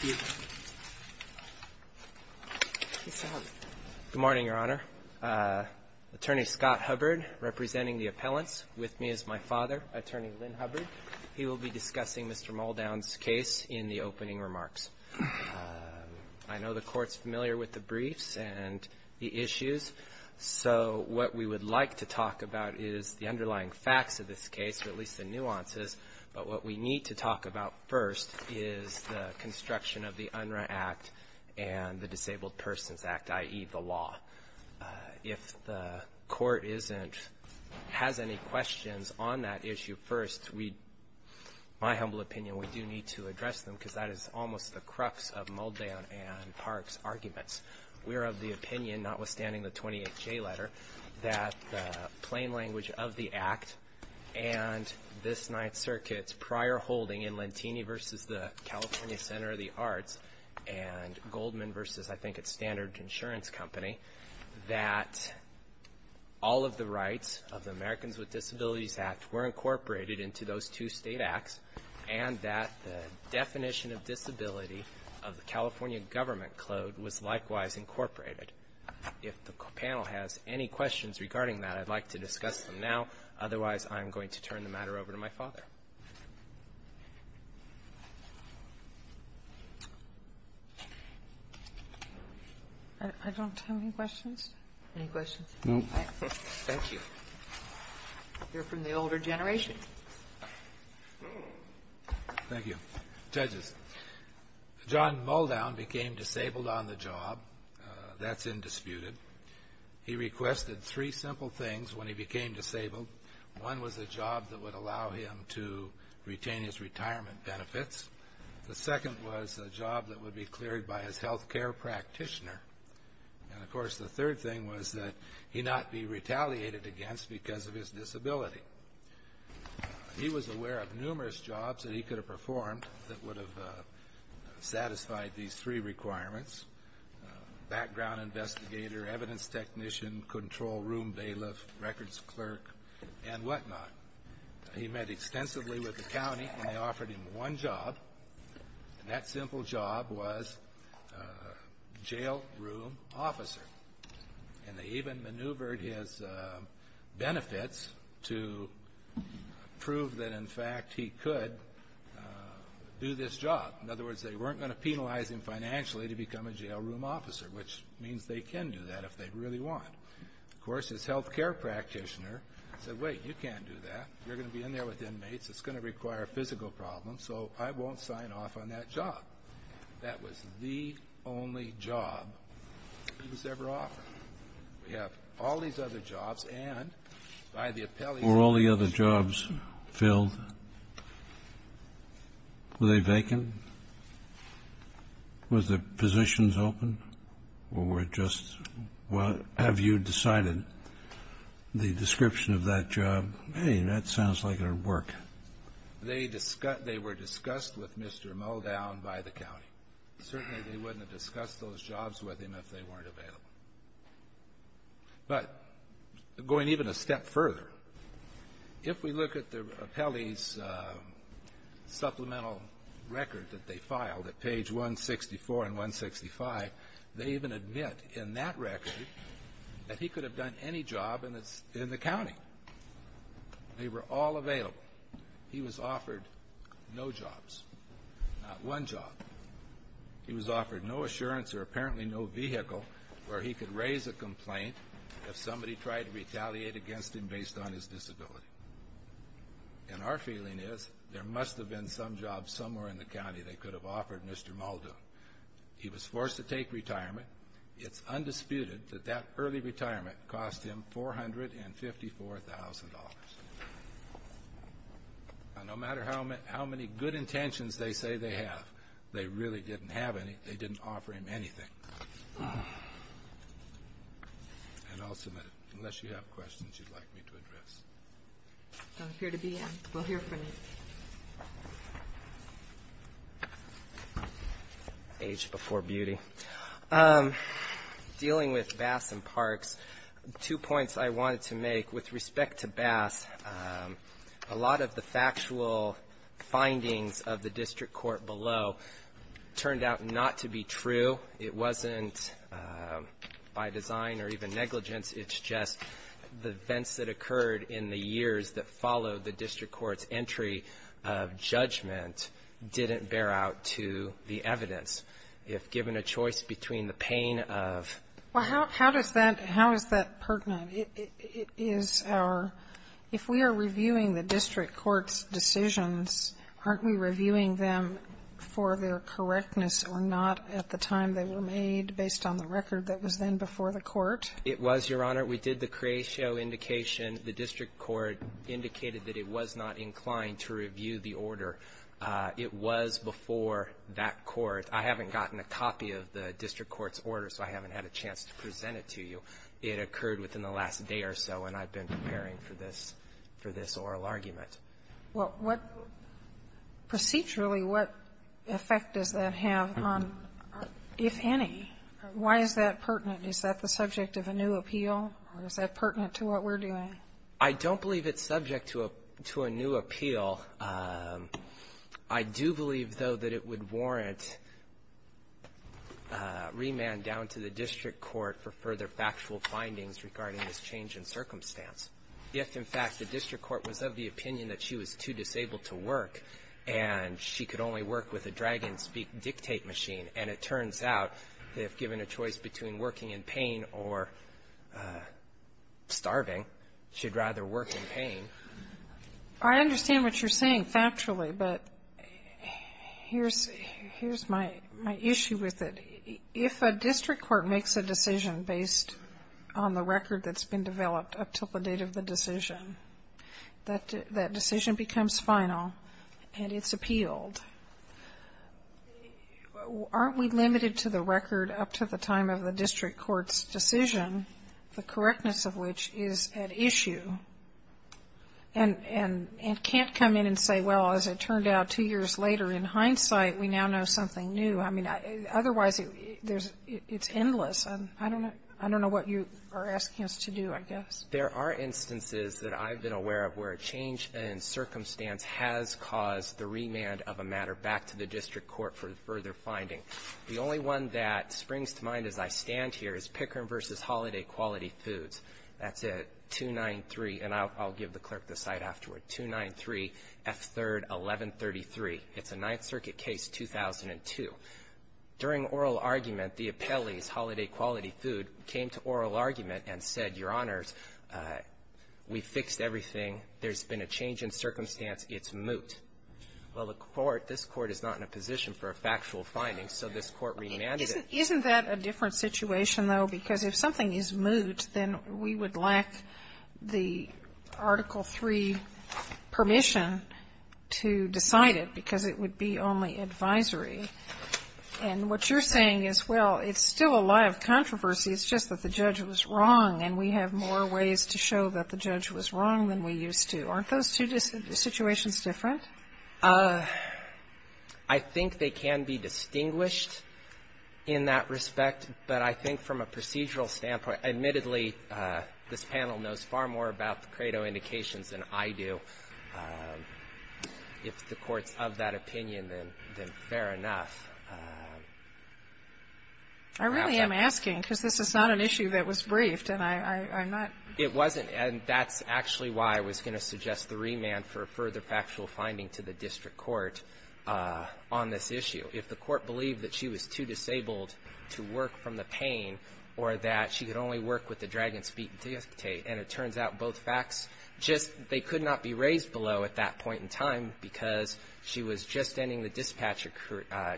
Good morning, Your Honor. Attorney Scott Hubbard, representing the appellants with me is my father, Attorney Lynn Hubbard. He will be discussing Mr. Muldown's case in the opening remarks. I know the Court's familiar with the briefs and the issues, so what we would like to talk about is the underlying facts of this case, at least the nuances, but what we need to talk about first is the construction of the UNRRA Act and the Disabled Persons Act, i.e. the law. If the Court has any questions on that issue first, my humble opinion, we do need to address them, because that is almost the crux of Muldown and Park's arguments. We are of the opinion, notwithstanding the 28J letter, that the plain language of the Act and this Ninth Circuit's prior holding in Lentini v. the California Center of the Arts and Goldman v. I think its standard insurance company, that all of the rights of the Americans with Disabilities Act were incorporated into those two state acts and that the definition of disability of the California government code was likewise incorporated. If the panel has any questions regarding that, I'd like to discuss them now. Otherwise, I'm going to turn the matter over to my father. I don't have any questions. Any questions? No. Thank you. We'll hear from the older generation. Thank you. Judges, John Muldown became disabled on the job. That's indisputed. He requested three simple things when he became disabled. One was a job that would allow him to retain his retirement benefits. The second was a job that would be cleared by his health care practitioner. And, of course, the third thing was that he not be retaliated against because of his disability. He was aware of numerous jobs that he could have performed that would have satisfied these three requirements, background investigator, evidence technician, control room bailiff, records clerk, and whatnot. He met extensively with the county and they offered him one job. And that simple job was jail room officer. And they even maneuvered his benefits to prove that, in fact, he could do this job. In other words, they weren't going to penalize him financially to become a jail room officer, which means they can do that if they really want. Of course, his health care practitioner said, wait, you can't do that. You're going to be in there with inmates. It's going to require a physical problem, so I won't sign off on that job. That was the only job he was ever offered. We have all these other jobs and by the appellees. Were all the other jobs filled? Were they vacant? Were the positions open? Or just have you decided the description of that job? Hey, that sounds like it would work. They were discussed with Mr. Modown by the county. Certainly, they wouldn't have discussed those jobs with him if they weren't available. But going even a step further, if we look at the appellee's supplemental record that they filed at page 164 and 165, they even admit in that record that he could have done any job in the county. They were all available. He was offered no jobs, not one job. He was offered no assurance or apparently no vehicle where he could raise a complaint if somebody tried to retaliate against him based on his disability. And our feeling is there must have been some job somewhere in the county they could have offered Mr. Modown. He was forced to take retirement. It's undisputed that that early retirement cost him $454,000. No matter how many good intentions they say they have, they really didn't offer him anything. And I'll submit it. Unless you have questions you'd like me to address. I'm here to be in. We'll hear from you. Age before beauty. Dealing with Bass and Parks, two points I wanted to make. With respect to Bass, a lot of the factual findings of the district court below turned out not to be true. It wasn't by design or even negligence. It's just the events that occurred in the years that followed the district court's entry of judgment didn't bear out to the evidence. If given a choice between the pain of ---- Well, how does that ---- how is that pertinent? It is our ---- if we are reviewing the district court's decisions, aren't we reviewing them for their correctness or not at the time they were made based on the record that was then before the court? It was, Your Honor. We did the creatio indication. The district court indicated that it was not inclined to review the order. It was before that court. I haven't gotten a copy of the district court's order, so I haven't had a chance to present it to you. It occurred within the last day or so, and I've been preparing for this oral argument. Well, what ---- procedurally, what effect does that have on, if any? Why is that pertinent? Is that the subject of a new appeal, or is that pertinent to what we're doing? I don't believe it's subject to a new appeal. I do believe, though, that it would warrant remand down to the district court for further to work, and she could only work with a dragon-speak dictate machine. And it turns out, if given a choice between working in pain or starving, she'd rather work in pain. I understand what you're saying factually, but here's my issue with it. If a district court makes a decision based on the record that's been developed up to the date of the decision, that decision becomes final and it's appealed. Aren't we limited to the record up to the time of the district court's decision, the correctness of which is at issue, and can't come in and say, well, as it turned out two years later, in hindsight, we now know something new. I mean, otherwise, it's endless. I don't know what you are asking us to do, I guess. There are instances that I've been aware of where a change in circumstance has caused the remand of a matter back to the district court for further finding. The only one that springs to mind as I stand here is Pickering v. Holiday Quality Foods. That's at 293, and I'll give the clerk the site afterward. It's at 293 F. 3rd, 1133. It's a Ninth Circuit case, 2002. During oral argument, the appellees, Holiday Quality Food, came to oral argument and said, Your Honors, we fixed everything. There's been a change in circumstance. It's moot. Well, the Court, this Court is not in a position for a factual finding, so this Court remanded it. Sotomayor, isn't that a different situation, though? Because if something is moot, then we would lack the Article III permission to decide it because it would be only advisory. And what you're saying is, well, it's still a lie of controversy. It's just that the judge was wrong, and we have more ways to show that the judge was wrong than we used to. Aren't those two situations different? I think they can be distinguished in that respect, but I think from a procedural standpoint, admittedly, this panel knows far more about the credo indications than I do. If the Court's of that opinion, then fair enough. I really am asking because this is not an issue that was briefed, and I'm not ---- It wasn't, and that's actually why I was going to suggest the remand for further factual finding to the district court on this issue. If the Court believed that she was too disabled to work from the pain or that she could only work with the Dragon's Feet Dispute, and it turns out both facts just they could not be raised below at that point in time because she was just ending the dispatcher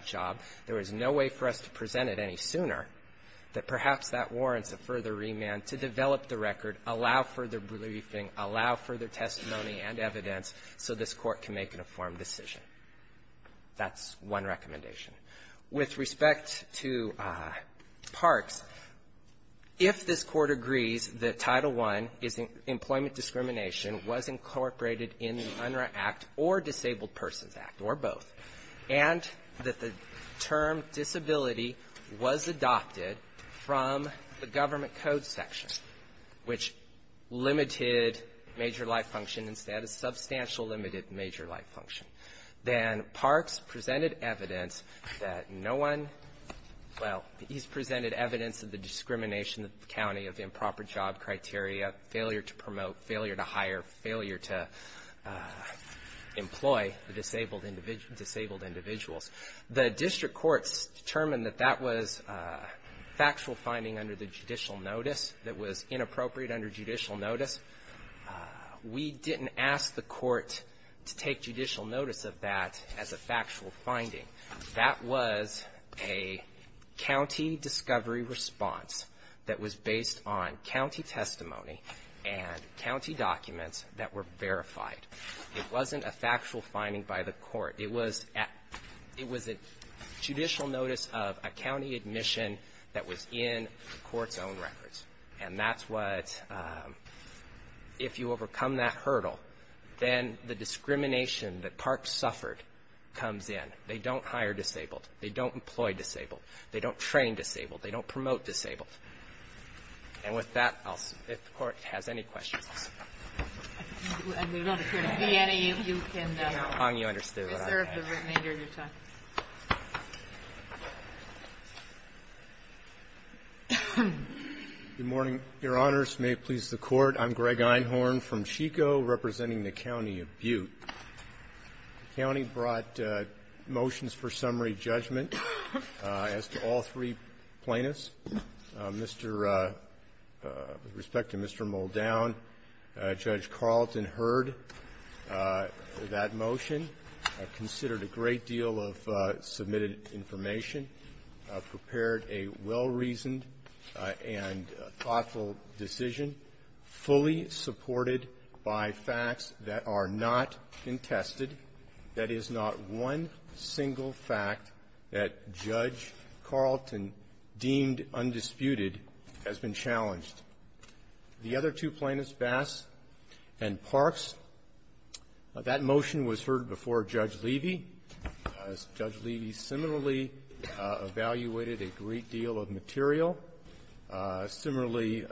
job, there was no way for us to present it any sooner, that perhaps that warrants a further remand to develop the record, allow further briefing, allow further testimony and evidence so this Court can make an informed decision. That's one recommendation. With respect to Parks, if this Court agrees that Title I is employment discrimination was incorporated in the UNRRA Act or Disabled Persons Act, or both, and that the term disability was adopted from the Government Code section, which limited the major life function instead of substantial limited major life function, then Parks presented evidence that no one, well, he's presented evidence of the discrimination of the county of improper job criteria, failure to promote, failure to hire, failure to employ the disabled individuals. The district courts determined that that was factual finding under the judicial notice. We didn't ask the Court to take judicial notice of that as a factual finding. That was a county discovery response that was based on county testimony and county documents that were verified. It wasn't a factual finding by the Court. It was a judicial notice of a county admission that was in the Court's own records. And that's what, if you overcome that hurdle, then the discrimination that Parks suffered comes in. They don't hire disabled. They don't employ disabled. They don't train disabled. They don't promote disabled. And with that, I'll see if the Court has any questions. I'm not sure if there will be any if you can, sir, if they're written in during your time. Good morning, Your Honors. May it please the Court. I'm Greg Einhorn from Chico representing the county of Butte. The county brought motions for summary judgment as to all three plaintiffs. Mr. --"With respect to Mr. Muldown, Judge Carleton heard that motion, considered a great deal of submitted information, prepared a well-reasoned and thoughtful decision, fully supported by facts that are not contested. That is not one single fact that Judge Carleton deemed undisputed has been challenged. The other two plaintiffs, Bass and Parks, that motion was heard before Judge Levy. Judge Levy similarly evaluated a great deal of material, similarly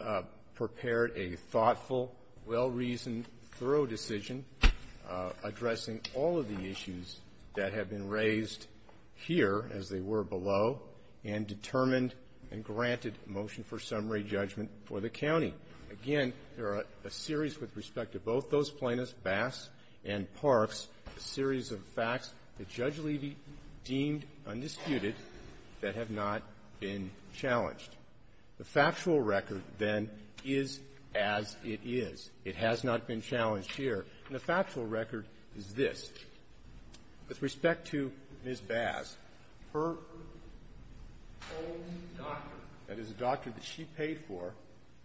prepared a thoughtful, well-reasoned, thorough decision addressing all of the issues that have been raised here, as they were below, and determined and granted motion for summary judgment for the county. Again, there are a series with respect to both those plaintiffs, Bass and Parks, a series of facts that Judge Levy deemed undisputed that have not been challenged. The factual record, then, is as it is. It has not been challenged here. And the factual record is this. With respect to Ms. Bass, her own doctor, that is, a doctor that she paid for,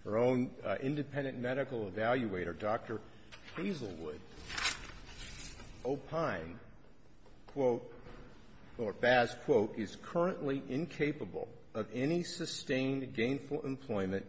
her own independent medical evaluator, Dr. Hazelwood, opine, quote, or Bass, quote, is currently incapable of any sustained gainful employment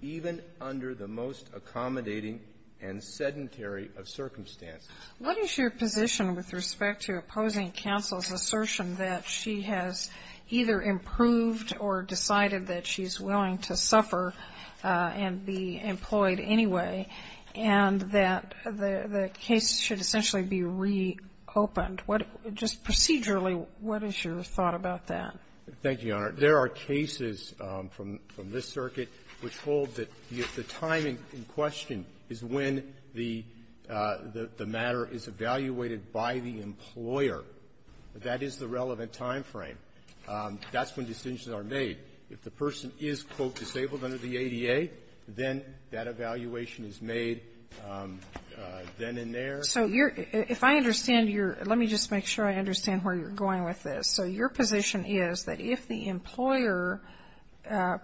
even under the most accommodating and sedentary of circumstances. What is your position with respect to opposing counsel's assertion that she has either improved or decided that she's willing to suffer and be employed anyway, and that the case should essentially be reopened? What just procedurally, what is your thought about that? Thank you, Your Honor. There are cases from this circuit which hold that if the time in question is when the matter is evaluated by the employer, that is the relevant time frame, that's when decisions are made. If the person is, quote, disabled under the ADA, then that evaluation is made then and there. So you're – if I understand your – let me just make sure I understand where you're going with this. So your position is that if the employer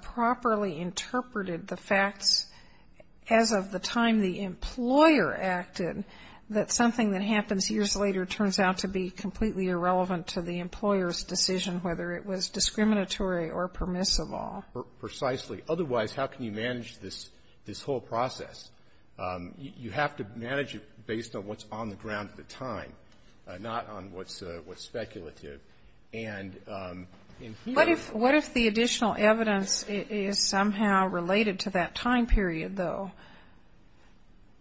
properly interpreted the facts as of the time the employer acted, that something that happens years later turns out to be completely irrelevant to the employer's decision, whether it was discriminatory or permissible. Precisely. Otherwise, how can you manage this whole process? You have to manage it based on what's on the ground at the time, not on what's speculative. And in here you have to What if – what if the additional evidence is somehow related to that time period, though?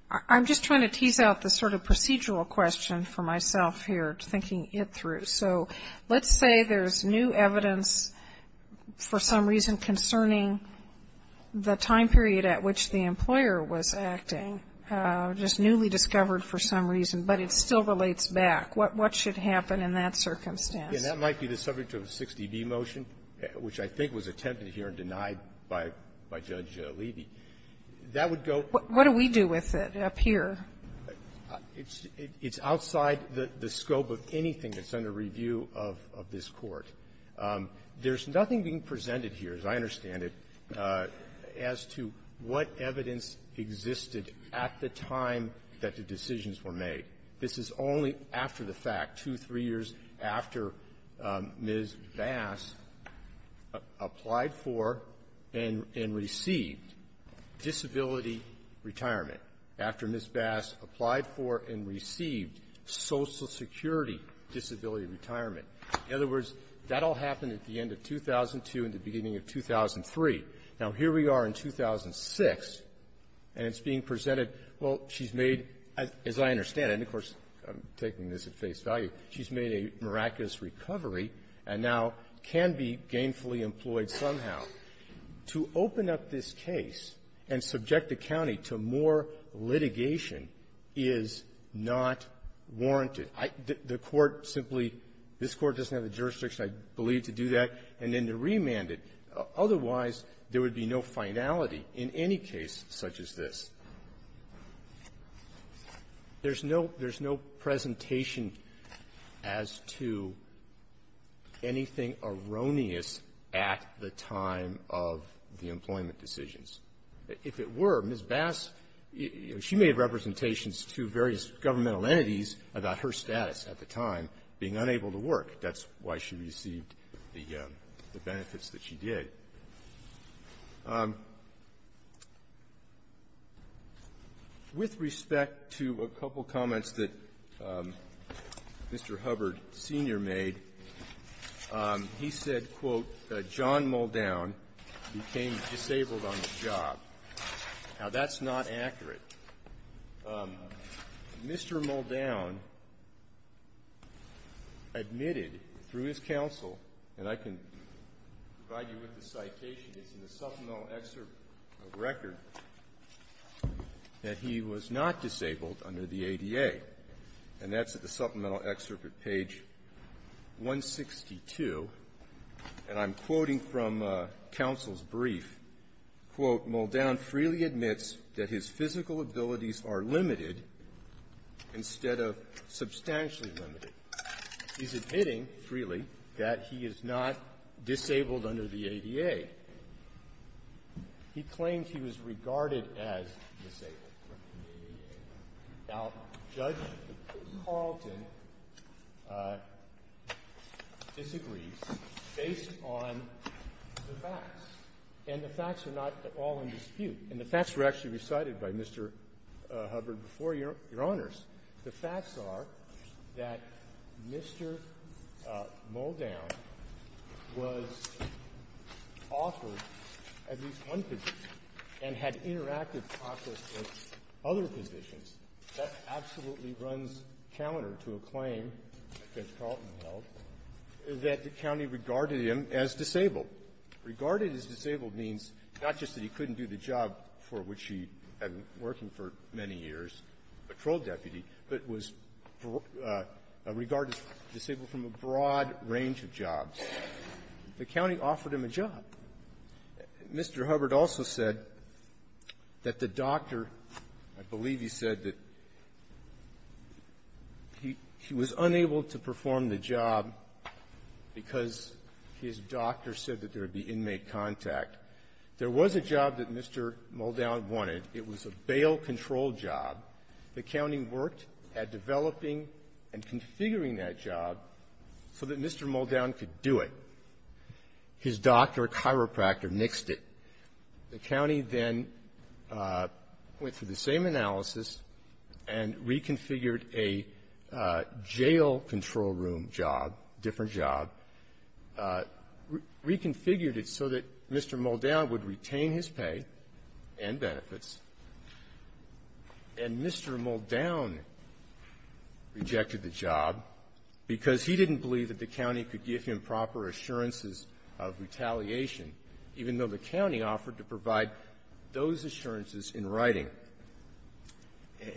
I'm just trying to tease out the sort of procedural question for myself here, thinking it through. So let's say there's new evidence for some reason concerning the time period at which the employer was acting, just newly discovered for some reason, but it still relates back. What should happen in that circumstance? Yeah. That might be the subject of a 60B motion, which I think was attempted here and denied by Judge Levy. That would go What do we do with it up here? It's outside the scope of anything that's under review of this Court. There's nothing being presented here, as I understand it, as to what evidence existed at the time that the decisions were made. This is only after the fact, two, three years after Ms. Bass applied for and received disability retirement, after Ms. Bass applied for and received Social Security disability retirement. In other words, that all happened at the end of 2002 and the beginning of 2003. Now, here we are in 2006, and it's being presented. Well, she's made, as I understand it, and of course, I'm taking this at face value, she's made a miraculous recovery and now can be gainfully employed somehow. To open up this case and subject the county to more litigation is not warranted. The Court simply, this Court doesn't have the jurisdiction, I believe, to do that, and then to remand it. Otherwise, there would be no finality in any case such as this. There's no presentation as to anything erroneous at the time of the employment decisions. If it were, Ms. Bass, you know, she made representations to various governmental entities about her status at the time, being unable to work. That's why she received the benefits that she did. With respect to a couple comments that Mr. Hubbard Sr. made, he said, quote, John Muldown became disabled on the job. Now, that's not accurate. Mr. Muldown admitted through his counsel, and I can provide you with the citation. It's in the supplemental excerpt of record that he was not disabled under the ADA. And that's at the supplemental excerpt at page 162. And I'm quoting from counsel's brief. Quote, Muldown freely admits that his physical abilities are limited instead of substantially limited. He's admitting, freely, that he is not disabled under the ADA. He claims he was regarded as disabled under the ADA. Now, Judge Carlton disagrees based on the facts. And the facts are not at all in dispute. And the facts were actually recited by Mr. Hubbard before Your Honors. The facts are that Mr. Muldown was offered at least one position and had interactive process with other positions. That absolutely runs counter to a claim that Judge Carlton held that the county regarded him as disabled. Regarded as disabled means not just that he couldn't do the job for which he had been working for many years, patrol deputy, but was regarded as disabled from a broad range of jobs. The county offered him a job. Mr. Hubbard also said that the doctor, I believe he said that he was unable to perform the job because his doctor said that there would be inmate contact. There was a job that Mr. Muldown wanted. It was a bail-control job. The county worked at developing and configuring that job so that Mr. Muldown could do it. His doctor, a chiropractor, nixed it. The county then went through the same analysis and reconfigured a jail-control room job, different job, reconfigured it so that Mr. Muldown would retain his pay and benefits. And Mr. Muldown rejected the job because he didn't believe that the county could give him proper assurances of retaliation, even though the county offered to provide those assurances in writing.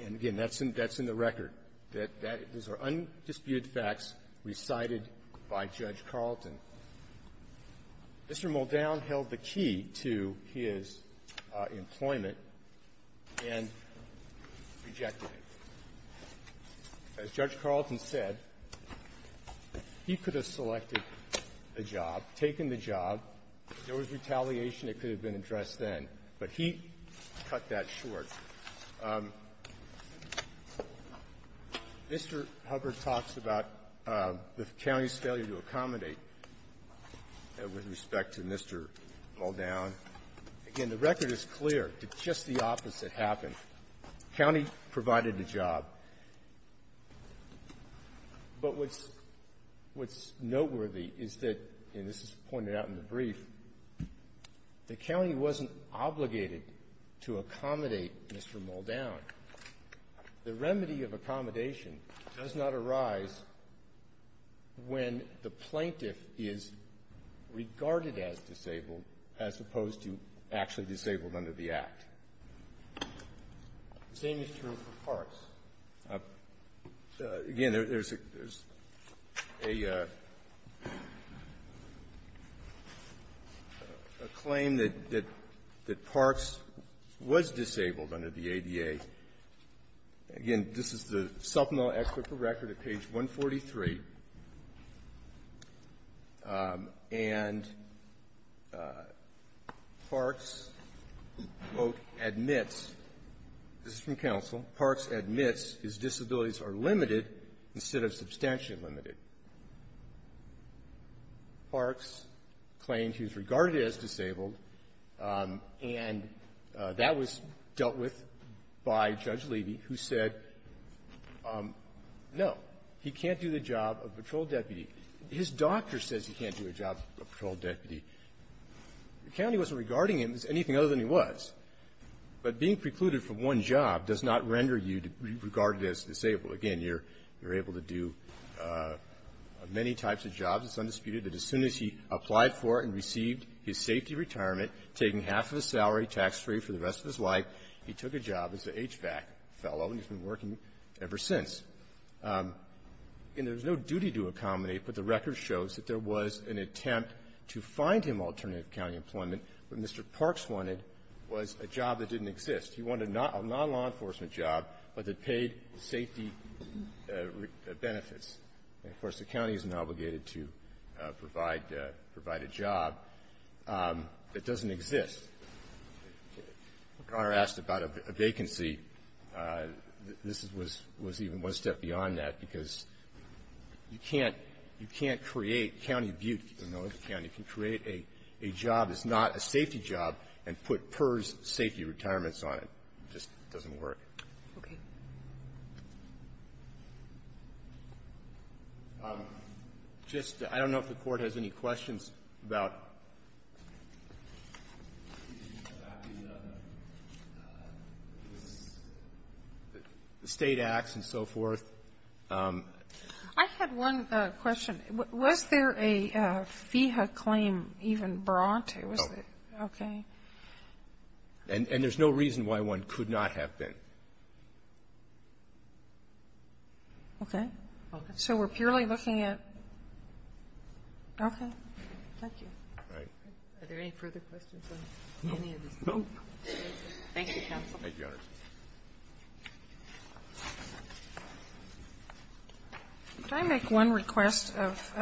And, again, that's in the record. Those are undisputed facts recited by Judge Carleton. Mr. Muldown held the key to his employment and rejected it. As Judge Carleton said, he could have selected the job, taken the job. If there was retaliation, it could have been addressed then. But he cut that short. Mr. Hubbard talks about the county's failure to accommodate with respect to Mr. Muldown. Again, the record is clear. It's just the opposite happened. The county provided the job. But what's noteworthy is that, and this is pointed out in the brief, the county wasn't obligated to accommodate Mr. Muldown. The remedy of accommodation does not arise when the plaintiff is regarded as disabled as opposed to actually disabled under the Act. The same is true for Parks. Again, there's a claim that Parks was disabled under the ADA. Again, this is the supplemental expert for record at page 143. And Parks, quote, admits, this is from counsel, Parks admits his disabilities are limited instead of substantially limited. Parks claimed he was regarded as disabled, and that was dealt with by Judge Levy, who said, no, he can't do the job of patrol deputy. His doctor says he can't do a job of patrol deputy. The county wasn't regarding him as anything other than he was. But being precluded from one job does not render you regarded as disabled. Again, you're able to do many types of jobs. It's undisputed that as soon as he applied for and received his safety retirement, taking half of his salary tax-free for the rest of his life, he took a job as an HVAC fellow, and he's been working ever since. And there's no duty to accommodate, but the record shows that there was an attempt to find him alternative county employment. What Mr. Parks wanted was a job that didn't exist. He wanted a non-law enforcement job, but that paid safety benefits. And, of course, the county isn't obligated to provide a job that doesn't exist. If Your Honor asked about a vacancy, this was even one step beyond that, because you can't create county butte, if you don't know the county, can create a job that's not a safety job and put PERS safety retirements on it. Okay. Just, I don't know if the Court has any questions about the state acts and so forth. I had one question. Was there a FEHA claim even brought? No. Okay. And there's no reason why one could not have been. Okay. So we're purely looking at okay. Thank you. All right. Are there any further questions on any of these? No. Thank you, counsel. Thank you, Your Honor. Could I make one request of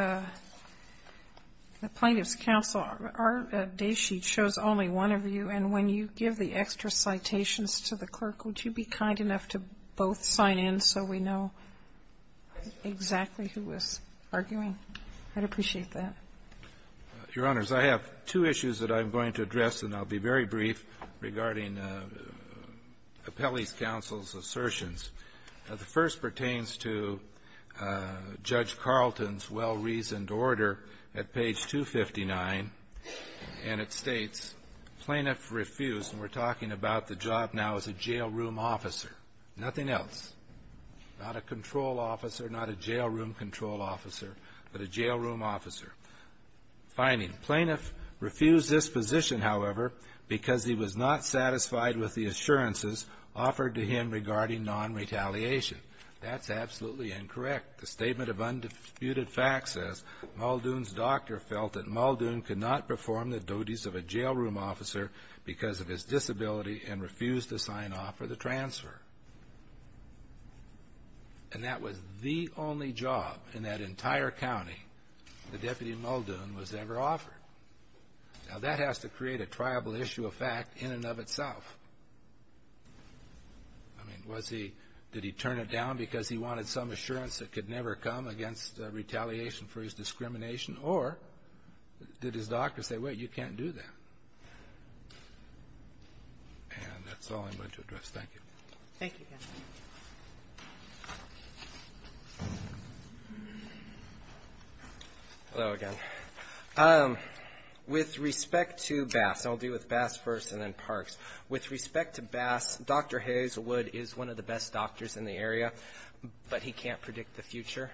the Plaintiff's counsel? Our daysheet shows only one of you, and when you give the extra citations to the clerk, would you be kind enough to both sign in so we know exactly who was arguing? I'd appreciate that. Your Honors, I have two issues that I'm going to address, and I'll be very brief regarding Appellee's counsel's assertions. The first pertains to Judge Carlton's well-reasoned order at page 259, and it states, Plaintiff refused, and we're talking about the job now as a jailroom officer, nothing else. Not a control officer, not a jailroom control officer, but a jailroom officer. Finding, Plaintiff refused this position, however, because he was not satisfied with the assurances offered to him regarding non-retaliation. That's absolutely incorrect. The Statement of Undisputed Facts says, Muldoon's doctor felt that Muldoon could not perform the duties of a jailroom officer because of his disability and refused to sign off for the transfer, and that was the only job in that entire county that Deputy Muldoon was ever offered. Now, that has to create a triable issue of fact in and of itself. I mean, was he, did he turn it down because he wanted some assurance that could never come against retaliation for his discrimination, or did his doctor say, wait, you can't do that? And that's all I'm going to address. Thank you. Thank you. Hello again. With respect to Bass, I'll deal with Bass first and then Parks. With respect to Bass, Dr. Hazelwood is one of the best doctors in the area, but he can't predict the future.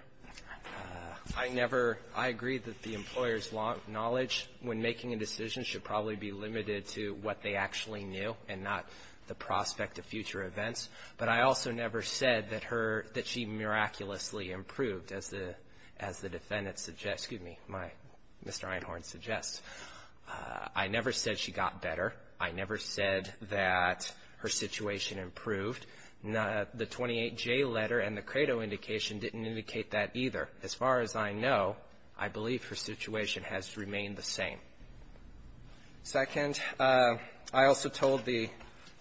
I never, I agree that the employer's knowledge when making a decision should probably be limited to what they actually knew and not the prospect of future events, but I also never said that her, that she miraculously improved as the, as the defendants suggest, excuse me, my, Mr. Einhorn suggests. I never said she got better. I never said that her situation improved. The 28J letter and the credo indication didn't indicate that either. As far as I know, I believe her situation has remained the same. Second, I also told the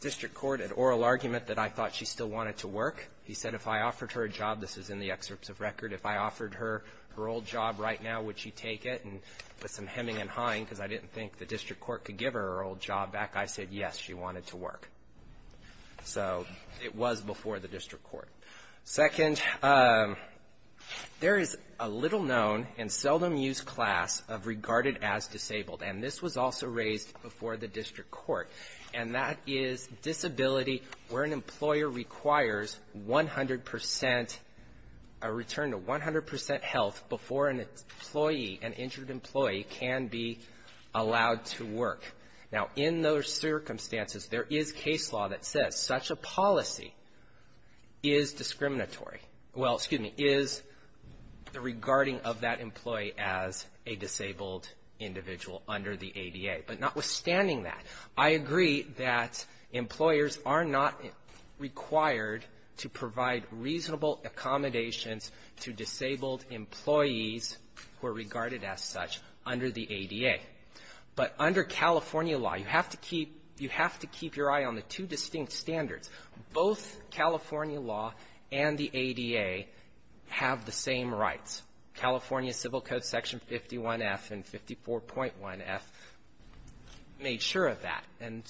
district court an oral argument that I thought she still wanted to work. He said if I offered her a job, this is in the excerpts of record, if I offered her her old job right now, would she take it? And with some hemming and hawing, because I didn't think the district court could give her her old job back, I said, yes, she wanted to work. So it was before the district court. Second, there is a little known and seldom used class of regarded as disabled, and this was also raised before the district court, and that is disability where an employer requires 100%, a return to 100% health before an employee, an injured employee can be allowed to work. Now, in those circumstances, there is case law that says such a policy is discriminatory. Well, excuse me, is the regarding of that employee as a disabled individual under the ADA. But notwithstanding that, I agree that employers are not required to provide reasonable accommodations to disabled employees who are regarded as such under the ADA. But under California law, you have to keep your eye on the two distinct standards. Both California law and the ADA have the same rights. California Civil Code Section 51F and 54.1F made sure of that, and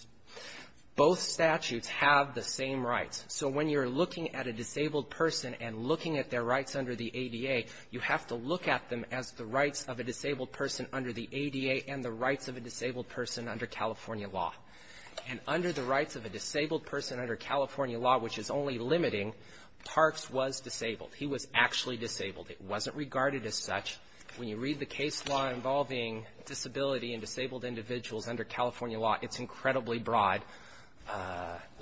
both statutes have the same rights. So when you're looking at a disabled person and looking at their rights under the ADA, you have to look at them as the rights of a disabled person under the ADA and the rights of a disabled person under California law. And under the rights of a disabled person under California law, which is only limiting, Parks was disabled. He was actually disabled. It wasn't regarded as such. When you read the case law involving disability and disabled individuals under California law, it's incredibly broad.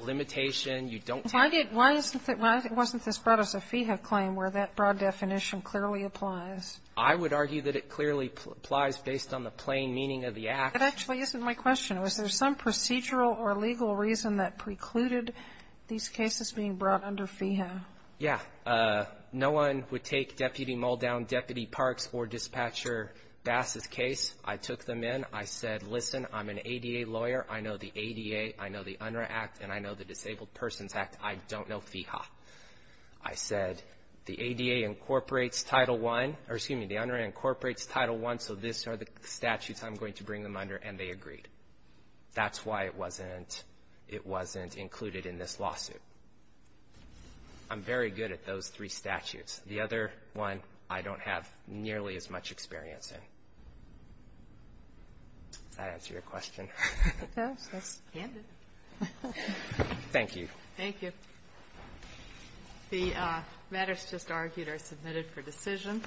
Limitation, you don't Why did, why isn't it, why wasn't this brought as a FEHA claim where that broad definition clearly applies? I would argue that it clearly applies based on the plain meaning of the act. That actually isn't my question. Was there some procedural or legal reason that precluded these cases being brought under FEHA? Yeah, no one would take Deputy Muldown, Deputy Parks, or Dispatcher Bass's case. I took them in. I said, listen, I'm an ADA lawyer. I know the ADA. I know the UNRRA Act, and I know the Disabled Persons Act. I don't know FEHA. I said, the ADA incorporates Title I, or excuse me, the UNRRA incorporates Title I, so these are the statutes I'm going to bring them under, and they agreed. That's why it wasn't, it wasn't included in this lawsuit. I'm very good at those three statutes. The other one, I don't have nearly as much experience in. Does that answer your question? It does. That's candid. Thank you. Thank you. The matters just argued are submitted for decision.